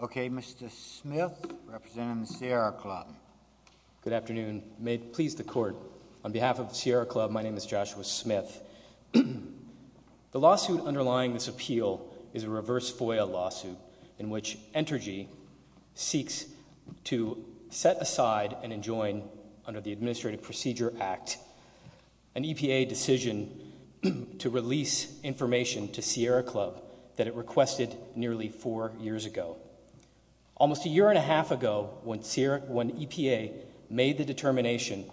Okay, Mr. Smith, representing the Sierra Club. Good afternoon. May it please the Court, on behalf of the Sierra Club, my name is Joshua Smith. The lawsuit underlying this appeal is a reverse FOIA lawsuit in which Entergy seeks to set aside and enjoin under the Administrative Procedure Act an EPA decision to release information to Sierra Club that it requested nearly four years ago. Almost a year and a half ago, when EPA made the determination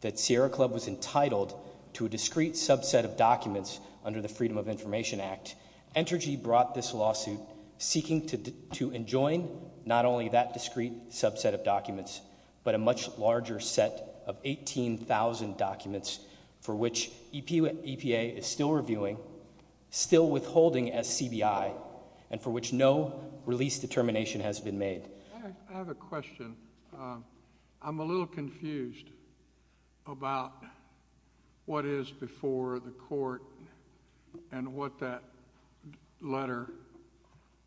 that Sierra Club was entitled to a discrete subset of documents under the Freedom of Information Act, Entergy brought this lawsuit seeking to enjoin not only that discrete subset of documents, but a much larger set of 18,000 documents for which EPA is still reviewing, still withholding SCBI, and for which no release determination has been made. I have a question. I'm a little confused about whether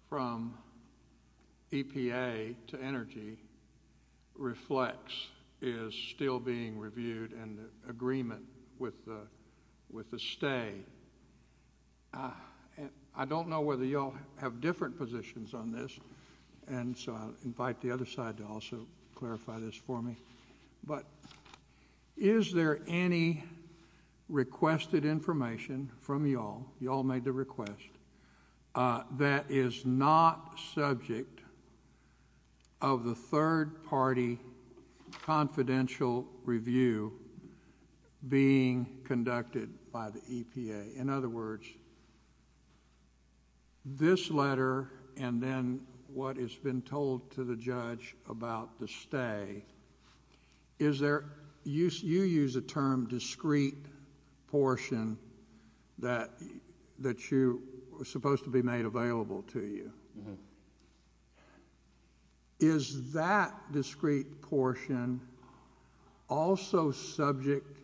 from EPA to Energy Reflex is still being reviewed in agreement with the stay. I don't know whether you all have different positions on this, and so I'll invite the other side to also clarify this for me. But is there any requested information from you all, you all made the request, that is not subject of the third party confidential review being conducted by the EPA? In other words, this letter and then what has been told to the judge about the stay, you use the term discrete portion that was supposed to be made available to you. Is that discrete portion also subject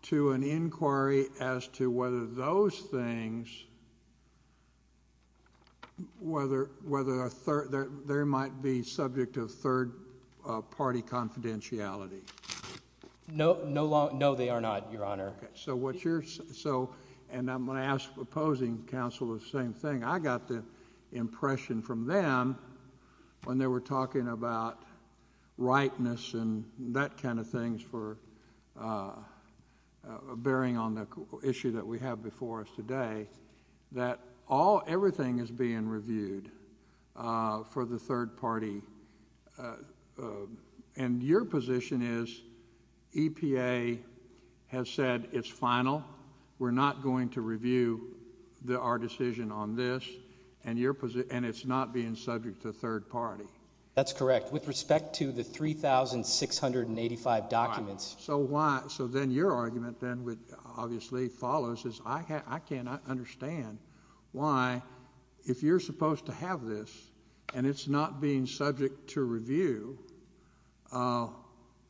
to an inquiry as to whether those things, whether there might be subject of third party confidentiality? No, they are not, Your Honor. I'm going to ask opposing counsel the same thing. I got the impression from them when they were talking about rightness and that kind of things for bearing on the issue that we have before us today, that everything is being reviewed for the third party, and your position is EPA has said it's final, we're not going to review our decision on this, and it's not being subject to third party. That's correct. With respect to the 3,685 documents. So why, so then your argument then obviously follows is I cannot understand why, if you're supposed to have this, and it's not being subject to review,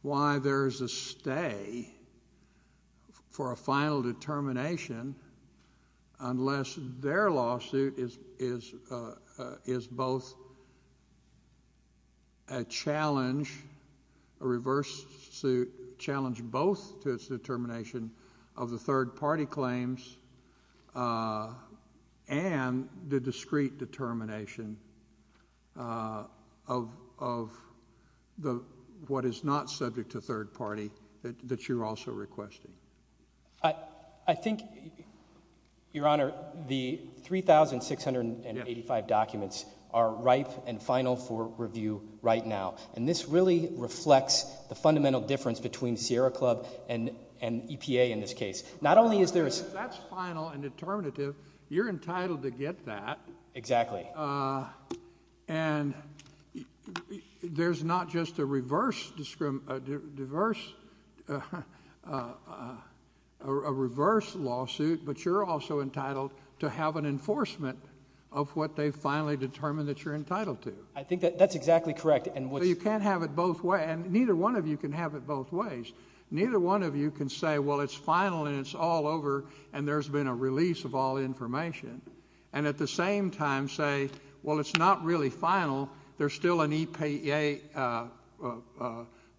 why there is a stay for a final determination unless their lawsuit is both a challenge, a reverse suit, challenge both to its determination of the third party claims and the discrete determination of what is not subject to third party. Your Honor, the 3,685 documents are ripe and final for review right now, and this really reflects the fundamental difference between Sierra Club and EPA in this case. Not only is there That's final and determinative. You're entitled to get that. Exactly. And there's not just a reverse a reverse lawsuit, but you're also entitled to have an enforcement of what they finally determined that you're entitled to. I think that's exactly correct. So you can't have it both ways, and neither one of you can have it both ways. Neither one of you can say, well, it's final and it's all over, and there's been a release of all information, and at the same time say, well, it's not really final. There's still an EPA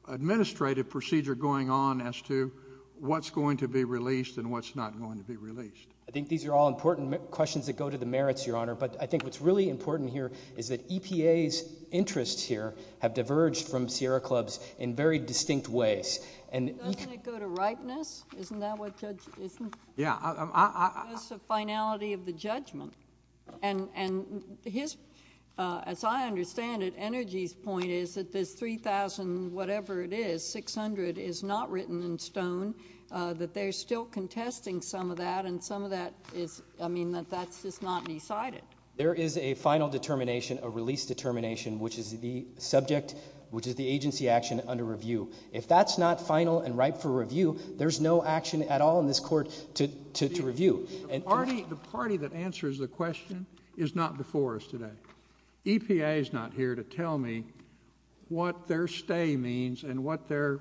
administrative procedure going on as to what's going to be released and what's not going to be released. I think these are all important questions that go to the merits, Your Honor, but I think what's really important here is that EPA's interests here have diverged from Sierra Club's in very distinct ways. Doesn't it go to ripeness? Isn't that what judges say? It's the finality of the judgment. As I understand it, Energy's point is that this 3,000-whatever-it-is, 600, is not written in stone, that they're still contesting some of that, and some of that is not decided. There is a final determination, a release determination, which is the subject, which is the agency action under review. If that's not final and ripe for review, there's no action at all in this court to review. The party that answers the question is not before us today. EPA is not here to tell me what their stay means and what their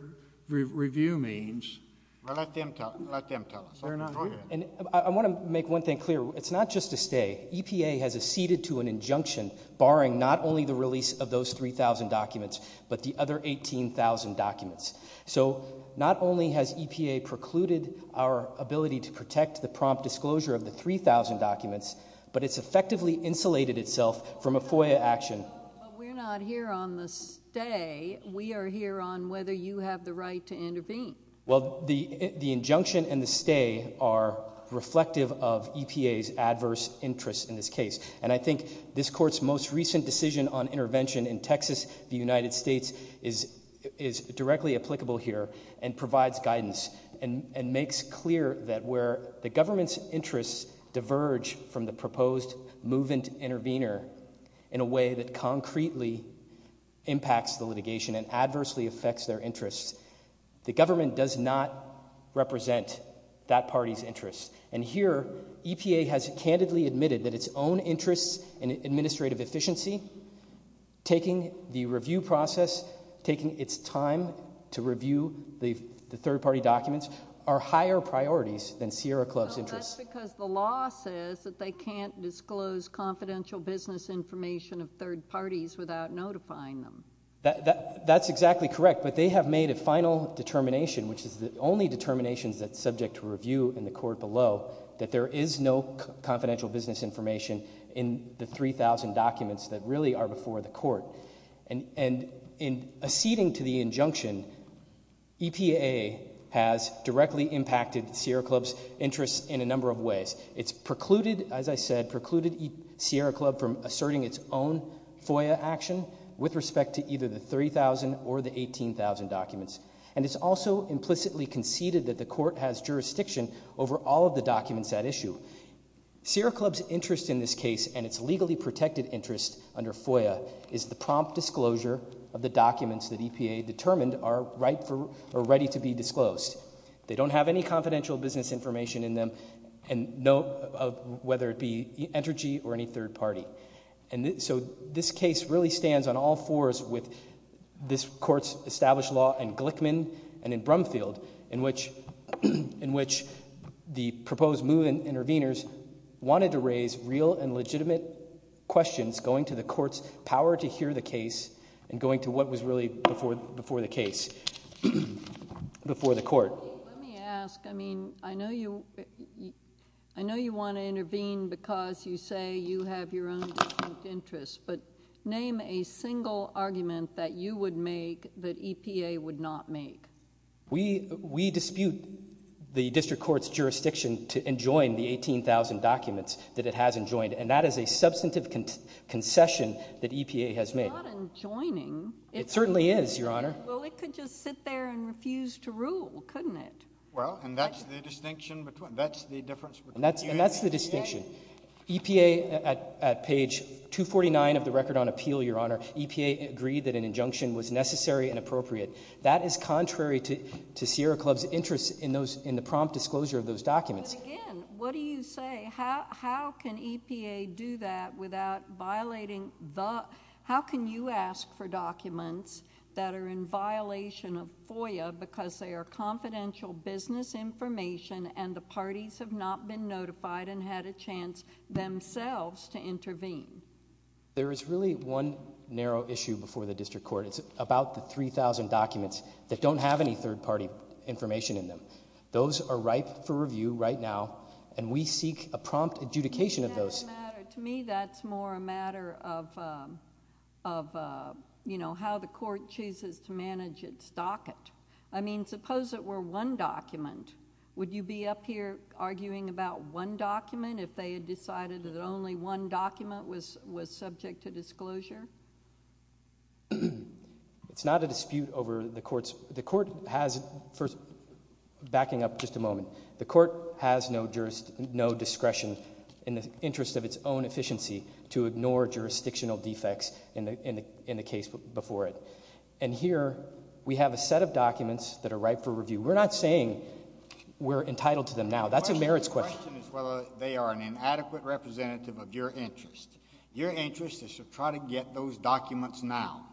review means. Let them tell us. I want to make one thing clear. It's not just a stay. EPA has acceded to an injunction barring not only the release of those 3,000 documents, but the other 18,000 documents. So not only has EPA precluded our ability to protect the prompt disclosure of the 3,000 documents, but it's effectively insulated itself from a FOIA action. But we're not here on the stay. We are here on whether you have the right to intervene. Well, the injunction and the stay are reflective of EPA's adverse interest in this case. And I think this Court's most recent decision on intervention in Texas v. United States is directly applicable here and provides guidance and makes clear that where the government's interests diverge from the proposed movement intervener in a way that concretely impacts the litigation and adversely affects their interests, the government does not represent that party's interests. And here, EPA has candidly admitted that its own interests in administrative efficiency, taking the review process, taking its time to review the third-party documents, are higher priorities than Sierra Club's interests. Well, that's because the law says that they can't disclose confidential business information of third parties without notifying them. That's exactly correct, but they have made a final determination, which is the only determination that's subject to review in the Court below, that there is no confidential business information in the 3,000 documents that really are before the Court. And acceding to the injunction, EPA has directly impacted Sierra Club's interests in a number of ways. It's precluded, as I said, precluded Sierra Club from asserting its own FOIA action with respect to either the 3,000 or the 18,000 documents. And it's also implicitly conceded that the Court has jurisdiction over all of the documents at issue. Sierra Club's interest in this case and its legally protected interest under FOIA is the prompt disclosure of the documents that EPA determined are ready to be disclosed. They don't have any confidential business information in them, whether it be energy or any third party. And so this case really stands on all fours with this Court's established law in Glickman and in Brumfield, in which the proposed move in intervenors wanted to raise real and legitimate questions going to the Court's power to ask questions before the case, before the Court. Let me ask, I mean, I know you want to intervene because you say you have your own distinct interests, but name a single argument that you would make that EPA would not make. We dispute the District Court's jurisdiction to enjoin the 18,000 documents that it hasn't enjoining. It certainly is, Your Honor. Well, it could just sit there and refuse to rule, couldn't it? Well, and that's the distinction between, that's the difference. And that's the distinction. EPA, at page 249 of the Record on Appeal, Your Honor, EPA agreed that an injunction was necessary and appropriate. That is contrary to Sierra Club's interest in the prompt disclosure of those documents. But again, what do you say? How can EPA do that without violating the... How can you ask for documents that are in violation of FOIA because they are confidential business information and the parties have not been notified and had a chance themselves to intervene? There is really one narrow issue before the District Court. It's about the 3,000 documents that don't have any third-party information in them. Those are ripe for review right now, and we seek a prompt adjudication of those. To me, that's more a matter of how the Court chooses to manage its docket. I mean, suppose it were one document. Would you be up here arguing about one document if they had decided that only one document was subject to disclosure? It's not a dispute over the Court's... Backing up just a moment. The Court has no discretion in the interest of its own efficiency to ignore jurisdictional defects in the case before it. And here, we have a set of documents that are ripe for review. We're not saying we're entitled to them now. That's a merits question. The question is whether they are an inadequate representative of your interest. Your interest is to try to get those documents now.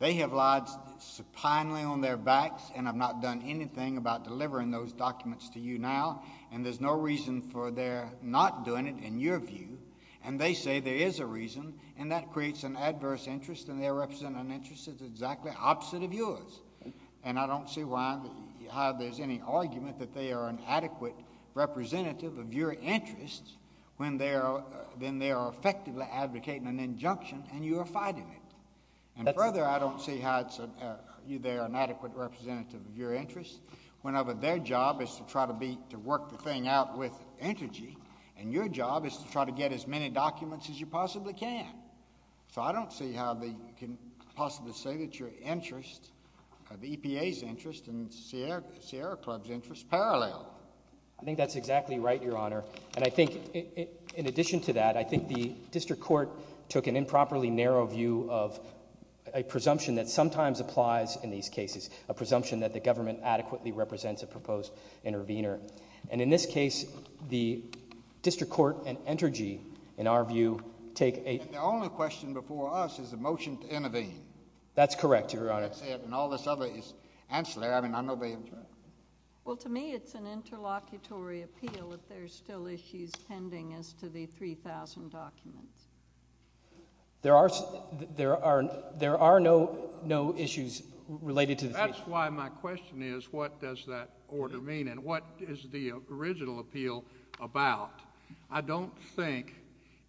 They have lied supinely on their backs and have not done anything about delivering those documents to you now, and there's no reason for their not doing it, in your view. And they say there is a reason, and that creates an adverse interest, and their interest is exactly opposite of yours. And I don't see why... how there's any argument that they are an adequate representative of your interest when they are effectively advocating an injunction, and you are fighting it. And further, I don't see how they are an adequate representative of your interest whenever their job is to try to work the thing out with energy, and your job is to try to get as many documents as you possibly can. So I don't see how you can possibly say that your interest, the EPA's interest and the Sierra Club's interest, are parallel. I think that's exactly right, Your Honor. And I think in addition to that, I think the District Court took an improperly narrow view of a presumption that sometimes applies in these cases, a presumption that the government adequately represents a proposed intervener. And in this case, the District Court and Entergy, in our view, take a... And the only question before us is a motion to intervene. That's correct, Your Honor. And all this other is ancillary. I mean, I know they have... Well, to me, it's an interlocutory appeal if there's still issues pending as to the 3,000 documents. There are... there are... there are no issues related to the... That's why my question is, what does that order mean and what is the original appeal about? I don't think...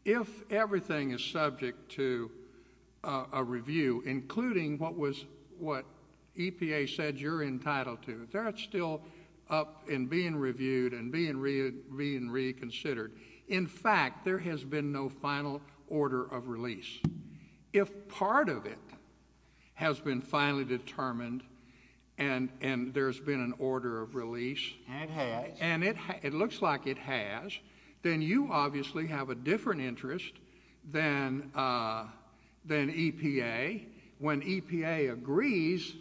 If everything is subject to a review, including what was... what EPA said you're entitled to, if that's still up and being reviewed and being reconsidered, in fact, there has been no final order of release. If part of it has been finally determined and there's been an order of release... And it has. And it looks like it has, then you obviously have a different interest than EPA. When EPA agrees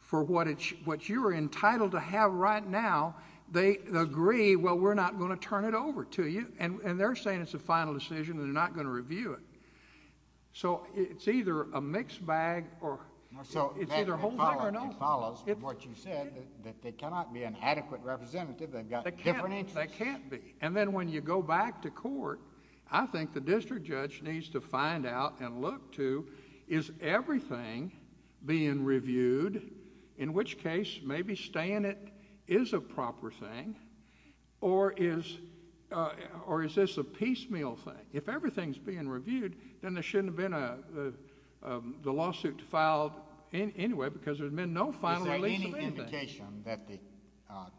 for what you're entitled to have right now, they agree, well, we're not going to turn it over to you. And they're saying it's a final decision and they're not going to review it. So it's either a mixed bag or... So it follows what you said, that they cannot be an adequate representative. They've got different interests. They can't be. And then when you go back to court, I think the district judge needs to find out and look to, is everything being reviewed, in which case maybe staying it is a proper thing or is this a piecemeal thing? If everything's being reviewed, then there shouldn't have been the lawsuit filed anyway because there's been no final release of anything. Is there any indication that the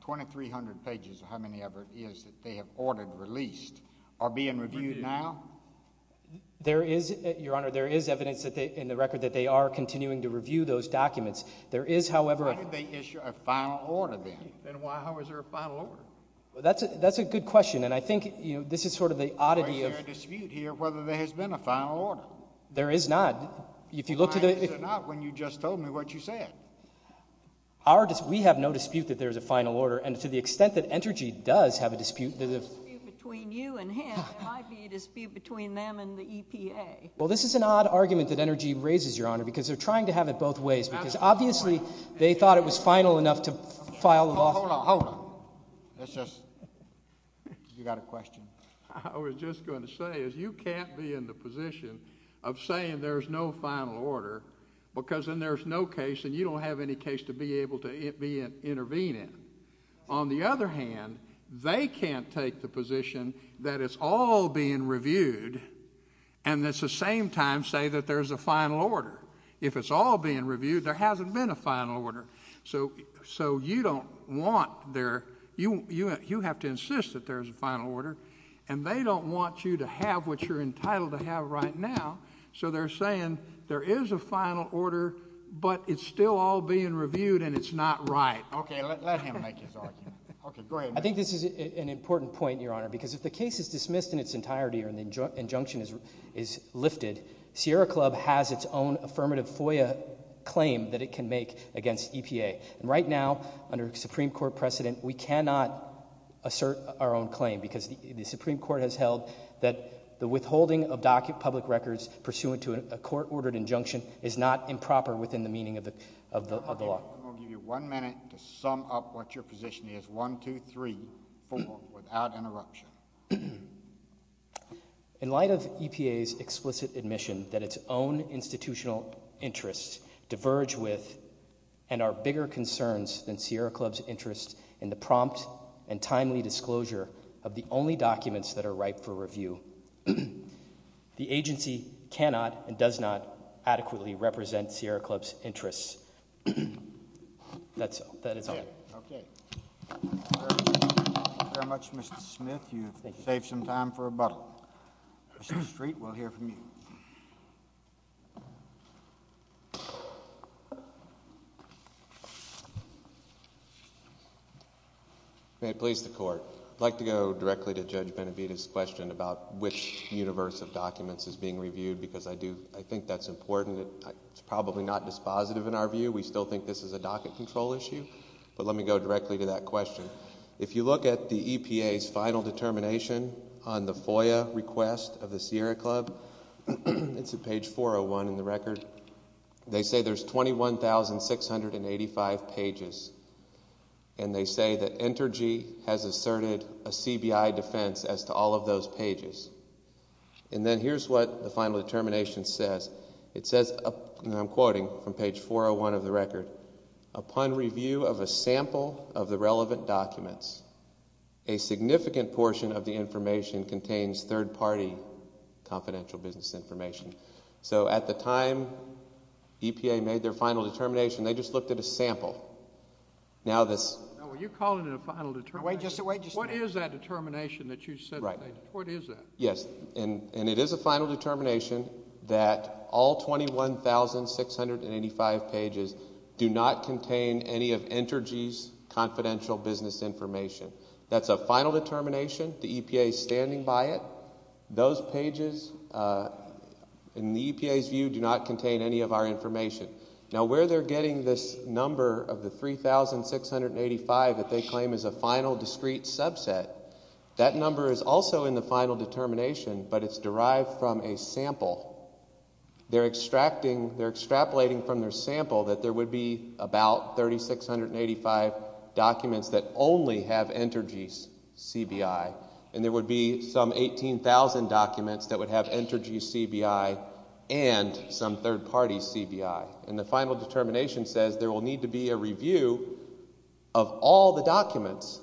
2,300 pages or how many ever it is that they have ordered released are being reviewed now? There is, Your Honor, there is evidence in the record that they are continuing to review those documents. There is, however... Why did they issue a final order then? Then why was there a final order? That's a good question, and I think this is sort of the oddity of... Is there a dispute here whether there has been a final order? There is not. If you look to the... Why is there not when you just told me what you said? We have no dispute that there is a final order, and to the extent that Entergy does have a dispute... If there's a dispute between you and him, there might be a dispute between them and the EPA. Well, this is an odd argument that Entergy raises, Your Honor, because they're trying to have it both ways because obviously they thought it was final enough to file a lawsuit. Hold on, hold on. Let's just... You've got a question. I was just going to say is you can't be in the position of saying there's no final order because then there's no case and you don't have any case to be able to intervene in. On the other hand, they can't take the position that it's all being reviewed and at the same time say that there's a final order. If it's all being reviewed, there hasn't been a final order. So you don't want their... you have to insist that there's a final order, and they don't want you to have what you're entitled to have right now, so they're saying there is a final order, but it's still all being reviewed and it's not right. Okay, let him make his argument. Okay, go ahead. I think this is an important point, Your Honor, because if the case is dismissed in its entirety and the injunction is lifted, Sierra Club has its own affirmative FOIA claim that it can make against EPA. And right now, under a Supreme Court precedent, we cannot assert our own claim because the Supreme Court has held that the withholding of public records pursuant to a court-ordered injunction is not improper within the meaning of the law. I'll give you one minute to sum up what your position is. One, two, three, four, without interruption. In light of EPA's explicit admission that its own institutional interests diverge with and are bigger concerns than Sierra Club's interests in the prompt and timely disclosure the agency cannot and does not adequately represent Sierra Club's interests. That is all. Okay. Thank you very much, Mr. Smith. You've saved some time for rebuttal. Mr. Street, we'll hear from you. May it please the Court. I'd like to go directly to Judge Benavidez's question about which universe of documents is being reviewed because I think that's important. It's probably not dispositive in our view. We still think this is a docket control issue. But let me go directly to that question. If you look at the EPA's final determination on the FOIA request of the Sierra Club, it's at page 401 in the record. They say there's 21,685 pages. And they say that Entergy has asserted a CBI defense as to all of those pages. And then here's what the final determination says. It says, and I'm quoting from page 401 of the record, upon review of a sample of the relevant documents, a significant portion of the information contains third-party confidential business information. So at the time EPA made their final determination, they just looked at a sample. Now this. You're calling it a final determination. What is that determination that you said? Right. What is that? Yes, and it is a final determination that all 21,685 pages do not contain any of Entergy's confidential business information. That's a final determination. The EPA is standing by it. Those pages, in the EPA's view, do not contain any of our information. Now where they're getting this number of the 3,685 that they claim is a final discrete subset, that number is also in the final determination, but it's derived from a sample. They're extrapolating from their sample that there would be about 3,685 documents that only have Entergy's CBI, and there would be some 18,000 documents that would have Entergy's CBI and some third-party CBI. And the final determination says there will need to be a review of all the documents,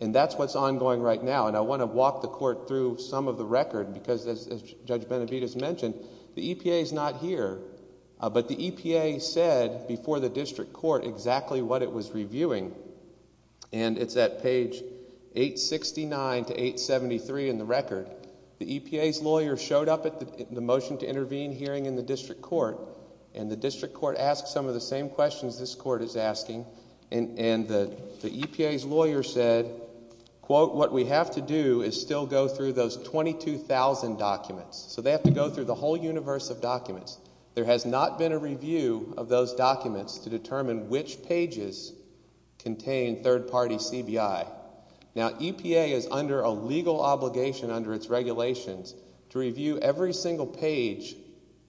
and that's what's ongoing right now. And I want to walk the court through some of the record because, as Judge Benavides mentioned, the EPA is not here, but the EPA said before the district court exactly what it was reviewing, and it's at page 869 to 873 in the record. The EPA's lawyer showed up at the motion to intervene hearing in the district court, and the district court asked some of the same questions this court is asking, and the EPA's lawyer said, quote, What we have to do is still go through those 22,000 documents. There has not been a review of those documents to determine which pages contain third-party CBI. Now, EPA is under a legal obligation under its regulations to review every single page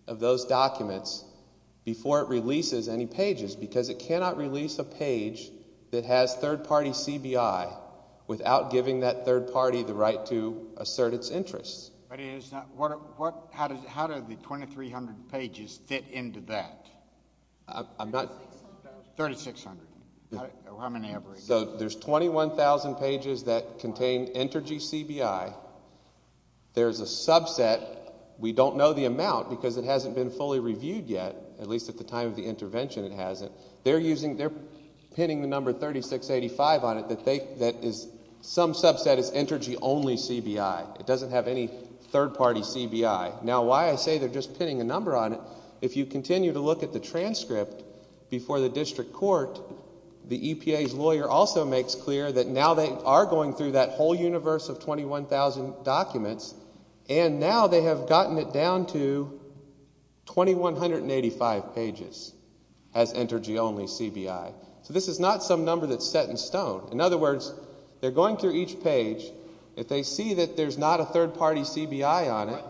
of those documents before it releases any pages because it cannot release a page that has third-party CBI without giving that third party the right to assert its interests. But how do the 2,300 pages fit into that? 3,600. So there's 21,000 pages that contain Entergy CBI. There's a subset. We don't know the amount because it hasn't been fully reviewed yet, at least at the time of the intervention it hasn't. They're pinning the number 3,685 on it that some subset is Entergy-only CBI. It doesn't have any third-party CBI. Now, why I say they're just pinning a number on it, if you continue to look at the transcript before the district court, the EPA's lawyer also makes clear that now they are going through that whole universe of 21,000 documents, and now they have gotten it down to 2,185 pages as Entergy-only CBI. So this is not some number that's set in stone. In other words, they're going through each page. If they see that there's not a third-party CBI on it.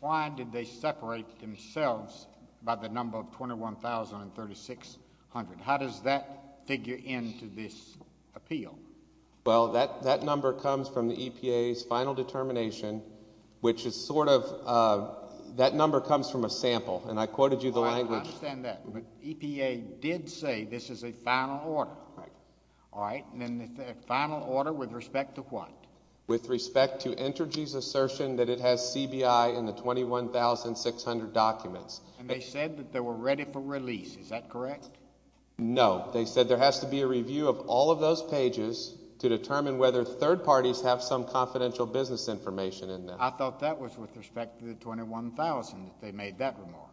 Why did they separate themselves by the number of 21,000 and 3,600? How does that figure into this appeal? Well, that number comes from the EPA's final determination, which is sort of that number comes from a sample. And I quoted you the language. I understand that. But EPA did say this is a final order. Right. All right. And then the final order with respect to what? With respect to Entergy's assertion that it has CBI in the 21,600 documents. And they said that they were ready for release. Is that correct? No. They said there has to be a review of all of those pages to determine whether third parties have some confidential business information in them. I thought that was with respect to the 21,000 that they made that remark.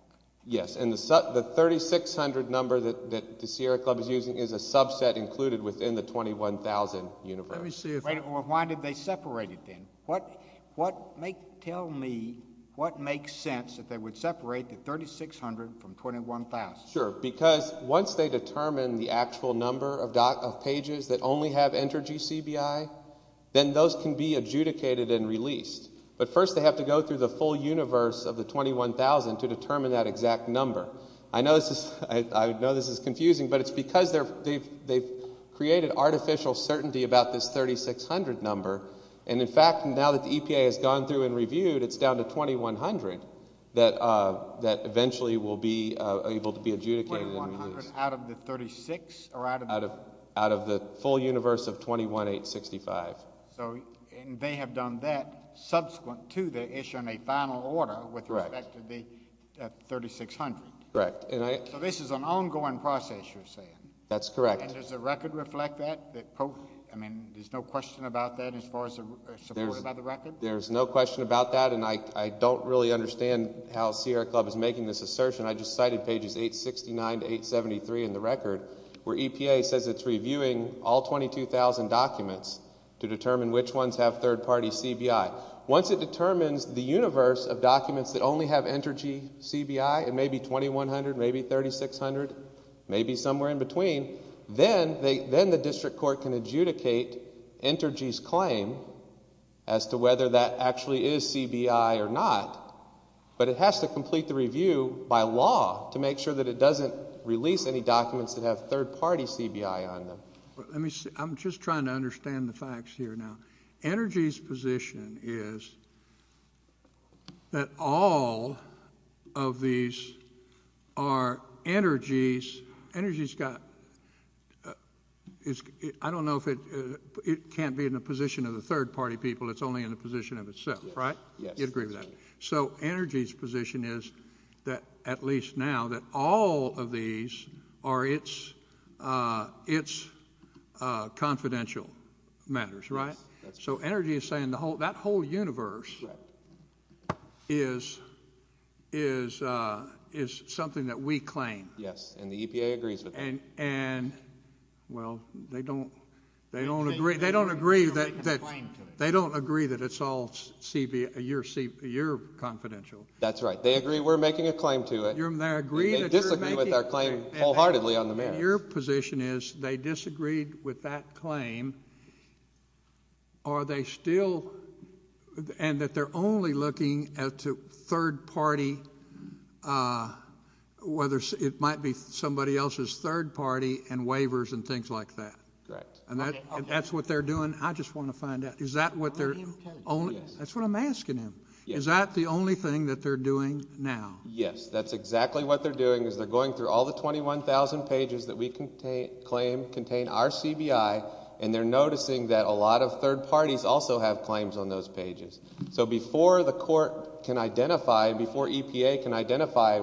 Yes. And the 3,600 number that the Sierra Club is using is a subset included within the 21,000 universe. Why did they separate it then? Tell me what makes sense that they would separate the 3,600 from 21,000. Sure. Because once they determine the actual number of pages that only have Entergy CBI, then those can be adjudicated and released. But first they have to go through the full universe of the 21,000 to determine that exact number. I know this is confusing, but it's because they've created artificial certainty about this 3,600 number. And, in fact, now that the EPA has gone through and reviewed, it's down to 2,100 that eventually will be able to be adjudicated and released. 2,100 out of the 36 or out of the? Out of the full universe of 21,865. Yes. And they have done that subsequent to the issue in a final order with respect to the 3,600. Correct. So this is an ongoing process, you're saying? That's correct. And does the record reflect that? I mean, there's no question about that as far as they're supported by the record? There's no question about that, and I don't really understand how Sierra Club is making this assertion. I just cited pages 869 to 873 in the record where EPA says it's reviewing all 22,000 documents to determine which ones have third-party CBI. Once it determines the universe of documents that only have Entergy CBI, it may be 2,100, it may be 3,600, it may be somewhere in between, then the district court can adjudicate Entergy's claim as to whether that actually is CBI or not. But it has to complete the review by law to make sure that it doesn't release any documents that have third-party CBI on them. I'm just trying to understand the facts here now. Entergy's position is that all of these are Entergy's. I don't know if it can't be in the position of the third-party people, it's only in the position of itself, right? Yes. You'd agree with that. So Entergy's position is, at least now, that all of these are its confidential matters, right? Yes. So Entergy is saying that whole universe is something that we claim. Yes, and the EPA agrees with that. Well, they don't agree that it's all your confidential. That's right. They agree we're making a claim to it, and they disagree with our claim wholeheartedly on the merits. But your position is they disagreed with that claim, and that they're only looking at third-party, whether it might be somebody else's third-party, and waivers and things like that. Correct. And that's what they're doing? I just want to find out. That's what I'm asking him. Is that the only thing that they're doing now? Yes. That's exactly what they're doing is they're going through all the 21,000 pages that we claim contain our CBI, and they're noticing that a lot of third parties also have claims on those pages. So before the court can identify, before EPA can identify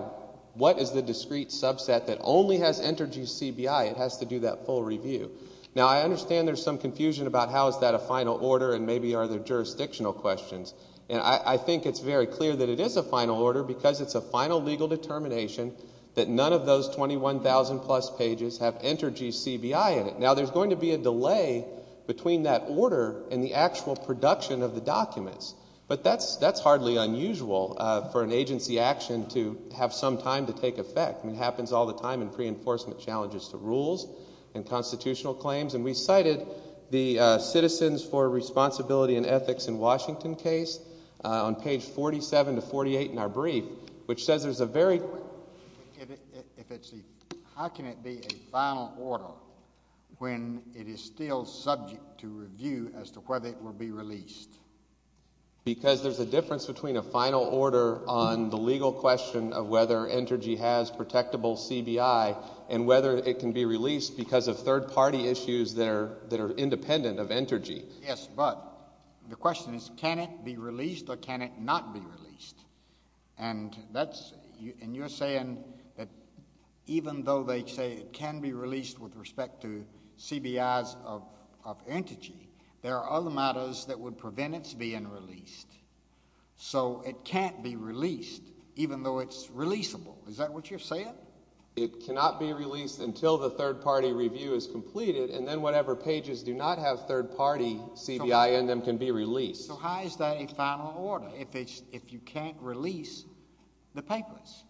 what is the discrete subset that only has Entergy's CBI, it has to do that full review. Now, I understand there's some confusion about how is that a final order and maybe are there jurisdictional questions. And I think it's very clear that it is a final order because it's a final legal determination that none of those 21,000-plus pages have Entergy's CBI in it. Now, there's going to be a delay between that order and the actual production of the documents, but that's hardly unusual for an agency action to have some time to take effect. It happens all the time in pre-enforcement challenges to rules and constitutional claims. And we cited the Citizens for Responsibility and Ethics in Washington case on page 47 to 48 in our brief, which says there's a very— How can it be a final order when it is still subject to review as to whether it will be released? Because there's a difference between a final order on the legal question of whether Entergy has protectable CBI and whether it can be released because of third-party issues that are independent of Entergy. Yes, but the question is can it be released or can it not be released? And that's—and you're saying that even though they say it can be released with respect to CBI's of Entergy, there are other matters that would prevent its being released. So it can't be released even though it's releasable. Is that what you're saying? It cannot be released until the third-party review is completed, and then whatever pages do not have third-party CBI in them can be released. So how is that a final order? If it's—if you can't release the papers.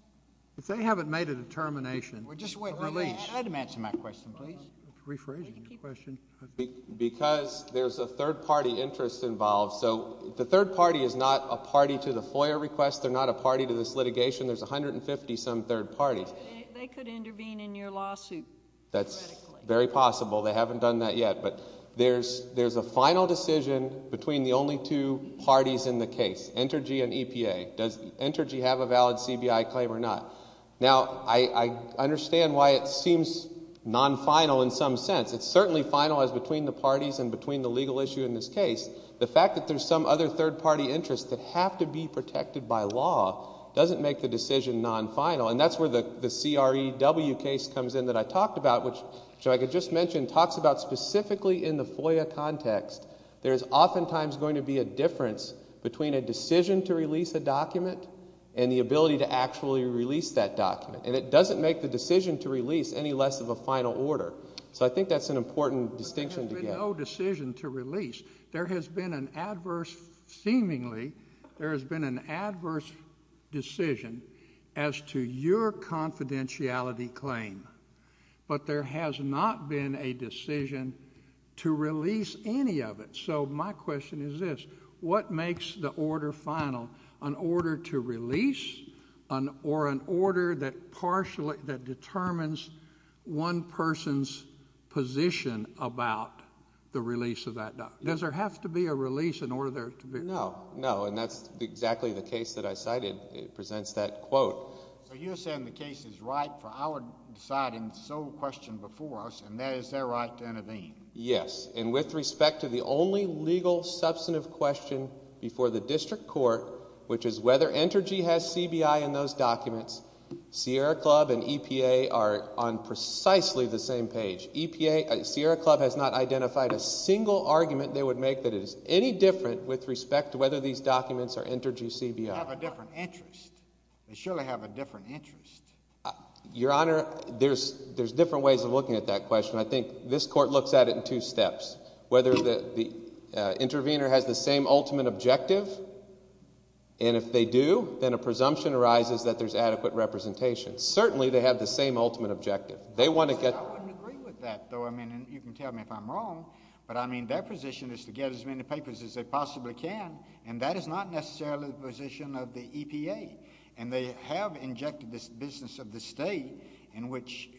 If they haven't made a determination— Well, just wait. Release. Adam, answer my question, please. I'm rephrasing your question. Because there's a third-party interest involved. So the third party is not a party to the FOIA request. They're not a party to this litigation. There's 150-some third parties. They could intervene in your lawsuit. That's very possible. They haven't done that yet. But there's a final decision between the only two parties in the case, Entergy and EPA. Does Entergy have a valid CBI claim or not? Now, I understand why it seems non-final in some sense. It's certainly final as between the parties and between the legal issue in this case. The fact that there's some other third-party interest that have to be protected by law doesn't make the decision non-final. And that's where the CREW case comes in that I talked about, which, like I just mentioned, talks about specifically in the FOIA context. There is oftentimes going to be a difference between a decision to release a document and the ability to actually release that document. And it doesn't make the decision to release any less of a final order. So I think that's an important distinction to get. But there has been no decision to release. There has been an adverse, seemingly, there has been an adverse decision as to your confidentiality claim. But there has not been a decision to release any of it. So my question is this. What makes the order final, an order to release or an order that determines one person's position about the release of that document? Does there have to be a release in order for there to be? No, no, and that's exactly the case that I cited. It presents that quote. So you're saying the case is right for our deciding sole question before us, and that is their right to intervene? Yes. And with respect to the only legal substantive question before the district court, which is whether Entergy has CBI in those documents, Sierra Club and EPA are on precisely the same page. Sierra Club has not identified a single argument they would make that is any different with respect to whether these documents are Entergy CBI. They have a different interest. They surely have a different interest. Your Honor, there's different ways of looking at that question. I think this court looks at it in two steps, whether the intervener has the same ultimate objective. And if they do, then a presumption arises that there's adequate representation. Certainly they have the same ultimate objective. They want to get. I wouldn't agree with that, though. I mean, you can tell me if I'm wrong. But, I mean, their position is to get as many papers as they possibly can, and that is not necessarily the position of the EPA. And they have injected this business of the state in which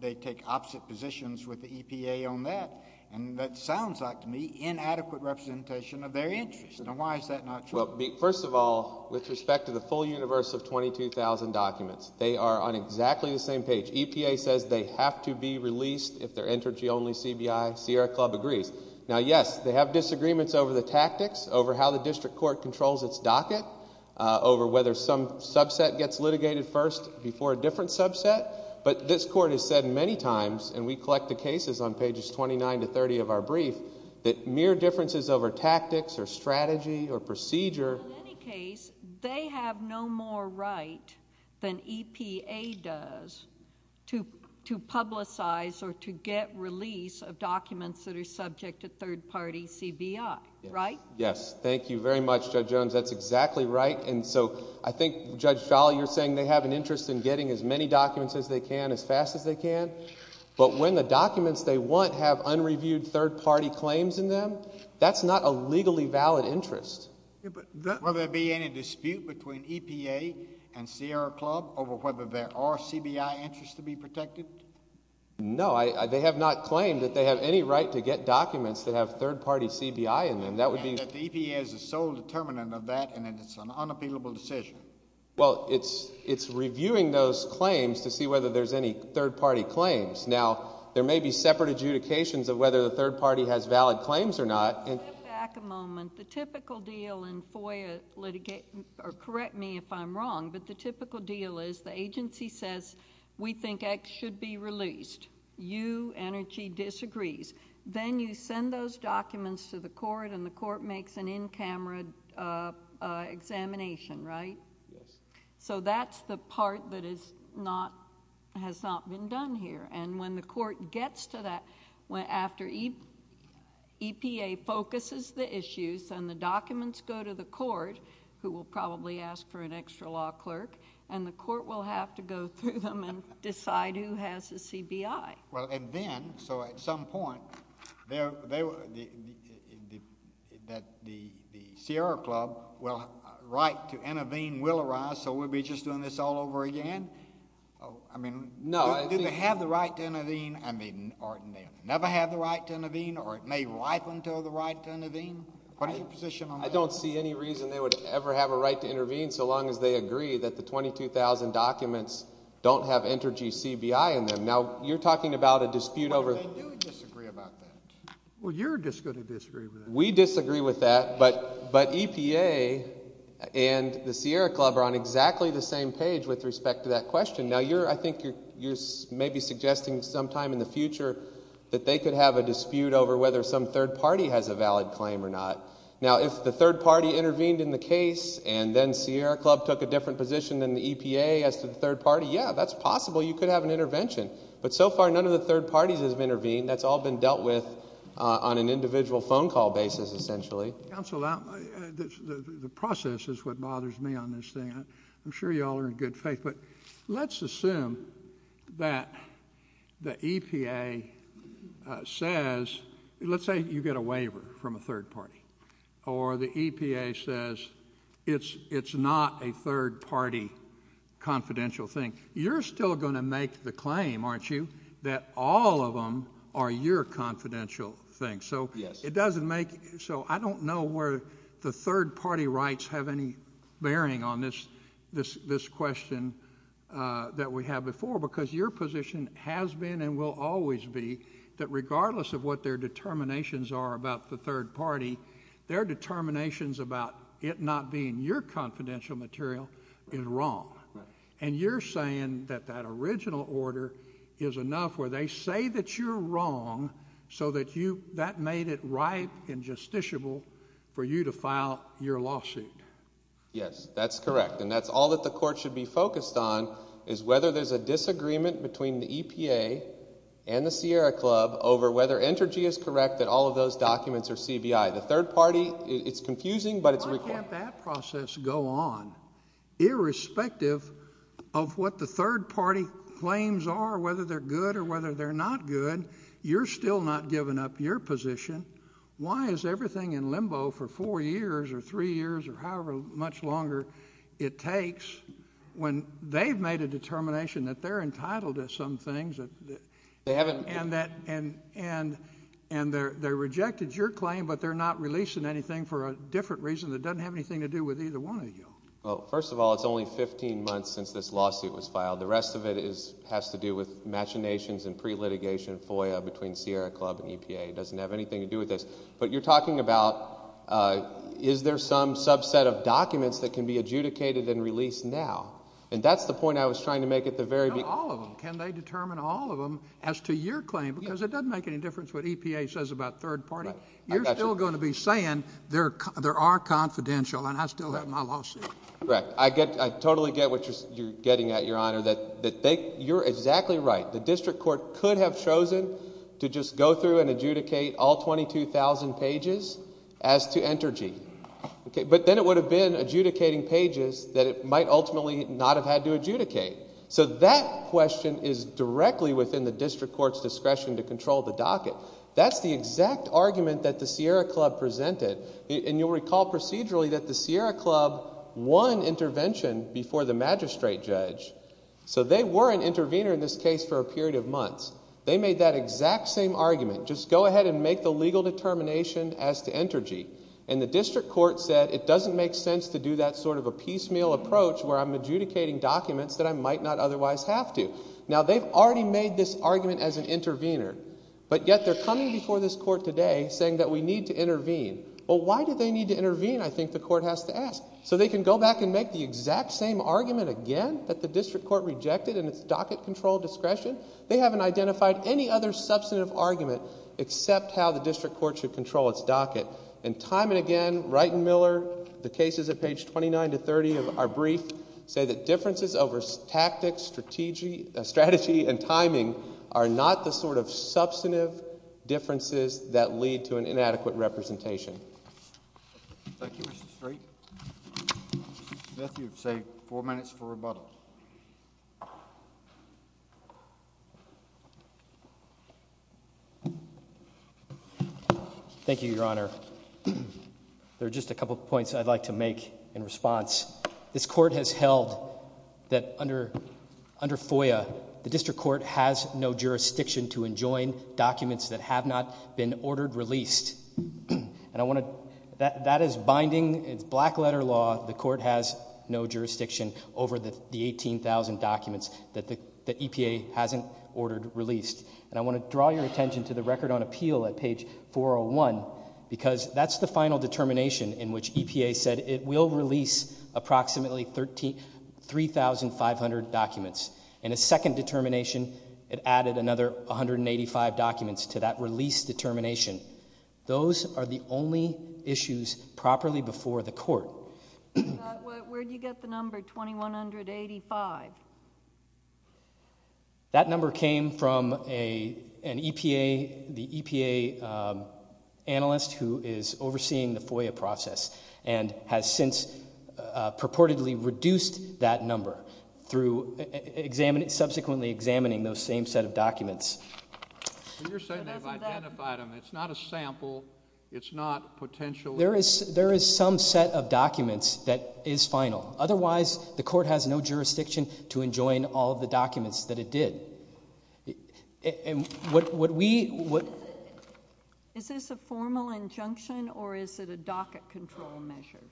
they take opposite positions with the EPA on that. And that sounds like, to me, inadequate representation of their interest. Now, why is that not true? Well, first of all, with respect to the full universe of 22,000 documents, they are on exactly the same page. EPA says they have to be released if they're Entergy-only CBI. Sierra Club agrees. Now, yes, they have disagreements over the tactics, over how the district court controls its docket, over whether some subset gets litigated first before a different subset. But this court has said many times, and we collect the cases on pages 29 to 30 of our brief, that mere differences over tactics or strategy or procedure... Right? Yes. Thank you very much, Judge Jones. That's exactly right. And so, I think, Judge Folley, you're saying they have an interest in getting as many documents as they can as fast as they can. But when the documents they want have unreviewed third-party claims in them, that's not a legally valid interest. Will there be any dispute between EPA and Sierra Club over whether there are CBI interests to be protected? No. They have not claimed that they have any right to get documents that have third-party CBI in them. That would be... And that the EPA is the sole determinant of that, and that it's an unappealable decision. Well, it's reviewing those claims to see whether there's any third-party claims. Now, there may be separate adjudications of whether the third party has valid claims or not. Let's go back a moment. The typical deal in FOIA litigation, or correct me if I'm wrong, but the typical deal is the agency says, we think X should be released. U Energy disagrees. Then you send those documents to the court, and the court makes an in-camera examination, right? Yes. So that's the part that has not been done here. And when the court gets to that, after EPA focuses the issues and the documents go to the court, who will probably ask for an extra law clerk, and the court will have to go through them and decide who has the CBI. Well, and then, so at some point, that the Sierra Club will have a right to intervene, will arise, so we'll be just doing this all over again? No. Do they have the right to intervene? I mean, or never have the right to intervene? Or it may ripen to the right to intervene? What is your position on that? I don't see any reason they would ever have a right to intervene so long as they agree that the 22,000 documents don't have Energy CBI in them. Now, you're talking about a dispute over – Well, they do disagree about that. Well, you're just going to disagree with that. We disagree with that, but EPA and the Sierra Club are on exactly the same page with respect to that question. Now, I think you're maybe suggesting sometime in the future that they could have a dispute over whether some third party has a valid claim or not. Now, if the third party intervened in the case and then Sierra Club took a different position than the EPA as to the third party, yeah, that's possible. You could have an intervention. But so far, none of the third parties have intervened. That's all been dealt with on an individual phone call basis, essentially. Counsel, the process is what bothers me on this thing. I'm sure you all are in good faith, but let's assume that the EPA says – let's say you get a waiver from a third party or the EPA says it's not a third party confidential thing. You're still going to make the claim, aren't you, that all of them are your confidential thing. Yes. It doesn't make – so I don't know where the third party rights have any bearing on this question that we had before because your position has been and will always be that regardless of what their determinations are about the third party, their determinations about it not being your confidential material is wrong. And you're saying that that original order is enough where they say that you're wrong so that you – that made it ripe and justiciable for you to file your lawsuit. Yes, that's correct. And that's all that the court should be focused on is whether there's a disagreement between the EPA and the Sierra Club over whether Entergy is correct that all of those documents are CBI. The third party, it's confusing, but it's required. Why can't that process go on irrespective of what the third party claims are, whether they're good or whether they're not good? You're still not giving up your position. Well, first of all, it's only 15 months since this lawsuit was filed. The rest of it has to do with machinations and pre-litigation FOIA between Sierra Club and EPA. It doesn't have anything to do with this. But you're talking about is there some subset of documents that can be adjudicated and released now? And that's the point I was trying to make at the very beginning. No, all of them. Can they determine all of them as to your claim? Because it doesn't make any difference what EPA says about third party. You're still going to be saying there are confidential and I still have my lawsuit. Correct. I get – I totally get what you're getting at, Your Honor, that they – you're exactly right. The district court could have chosen to just go through and adjudicate all 22,000 pages as to Entergy. But then it would have been adjudicating pages that it might ultimately not have had to adjudicate. So that question is directly within the district court's discretion to control the docket. That's the exact argument that the Sierra Club presented. And you'll recall procedurally that the Sierra Club won intervention before the magistrate judge. So they were an intervener in this case for a period of months. They made that exact same argument. Just go ahead and make the legal determination as to Entergy. And the district court said it doesn't make sense to do that sort of a piecemeal approach where I'm adjudicating documents that I might not otherwise have to. Now, they've already made this argument as an intervener. But yet they're coming before this court today saying that we need to intervene. Well, why do they need to intervene, I think the court has to ask. So they can go back and make the exact same argument again that the district court rejected in its docket control discretion. They haven't identified any other substantive argument except how the district court should control its docket. And time and again, Wright and Miller, the cases at page 29 to 30 of our brief, say that differences over tactics, strategy, and timing are not the sort of substantive differences that lead to an inadequate representation. Thank you, Mr. Street. Mr. Matthews, you've saved four minutes for rebuttal. Thank you, Your Honor. There are just a couple of points I'd like to make in response. This court has held that under FOIA, the district court has no jurisdiction to enjoin documents that have not been ordered released. That is binding. It's black-letter law. The court has no jurisdiction over the 18,000 documents that the EPA hasn't ordered released. And I want to draw your attention to the record on appeal at page 401 because that's the final determination in which EPA said it will release approximately 3,500 documents. In a second determination, it added another 185 documents to that release determination. Those are the only issues properly before the court. Where did you get the number 2,185? That number came from an EPA analyst who is overseeing the FOIA process and has since purportedly reduced that number through subsequently examining those same set of documents. You're saying they've identified them. It's not a sample. It's not potential. There is some set of documents that is final. Otherwise, the court has no jurisdiction to enjoin all of the documents that it did. Is this a formal injunction or is it a docket control measure?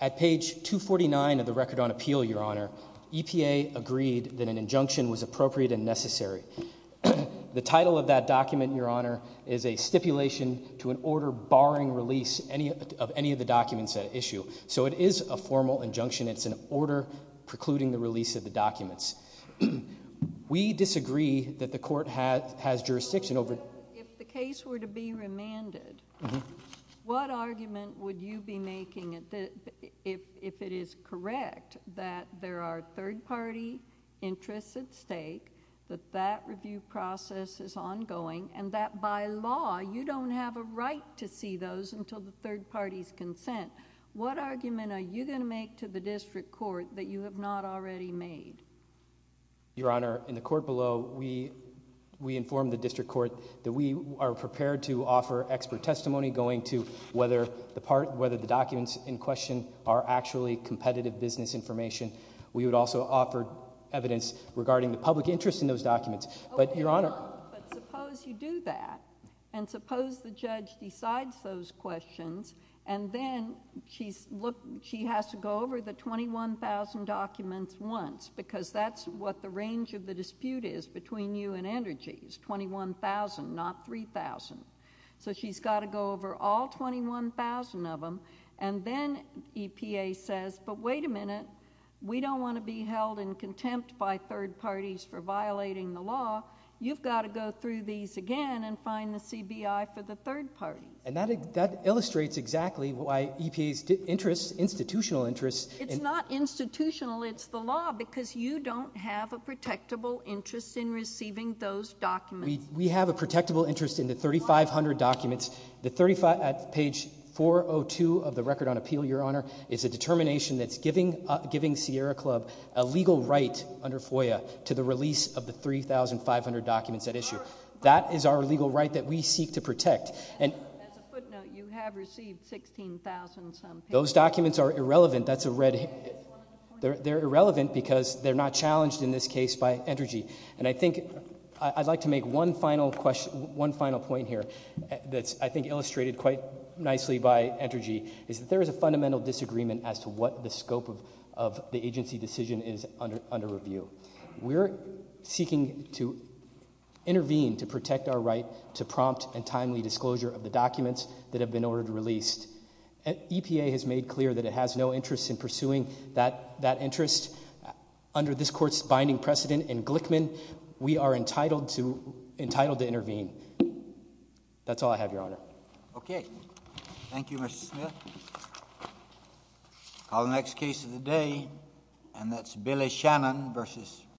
At page 249 of the record on appeal, Your Honor, EPA agreed that an injunction was appropriate and necessary. The title of that document, Your Honor, is a stipulation to an order barring release of any of the documents at issue. So it is a formal injunction. It's an order precluding the release of the documents. We disagree that the court has jurisdiction over it. If the case were to be remanded, what argument would you be making if it is correct that there are third-party interests at stake, that that review process is ongoing, and that by law you don't have a right to see those until the third party's consent? What argument are you going to make to the district court that you have not already made? Your Honor, in the court below, we informed the district court that we are prepared to offer expert testimony going to whether the documents in question are actually competitive business information. We would also offer evidence regarding the public interest in those documents. But, Your Honor— But suppose you do that, and suppose the judge decides those questions, and then she has to go over the 21,000 documents once, because that's what the range of the dispute is between you and Andergy, is 21,000, not 3,000. So she's got to go over all 21,000 of them, and then EPA says, but wait a minute, we don't want to be held in contempt by third parties for violating the law. You've got to go through these again and find the CBI for the third party. And that illustrates exactly why EPA's interests, institutional interests— It's not institutional, it's the law, because you don't have a protectable interest in receiving those documents. We have a protectable interest in the 3,500 documents. The 35—page 402 of the Record on Appeal, Your Honor, is a determination that's giving Sierra Club a legal right under FOIA to the release of the 3,500 documents at issue. That is our legal right that we seek to protect. As a footnote, you have received 16,000 some pages. Those documents are irrelevant. They're irrelevant because they're not challenged in this case by Andergy. And I think I'd like to make one final point here that's I think illustrated quite nicely by Andergy, is that there is a fundamental disagreement as to what the scope of the agency decision is under review. We're seeking to intervene to protect our right to prompt and timely disclosure of the documents that have been ordered released. EPA has made clear that it has no interest in pursuing that interest. Under this Court's binding precedent in Glickman, we are entitled to intervene. That's all I have, Your Honor. Okay. Thank you, Mr. Smith. I'll call the next case of the day, and that's Billy Shannon versus—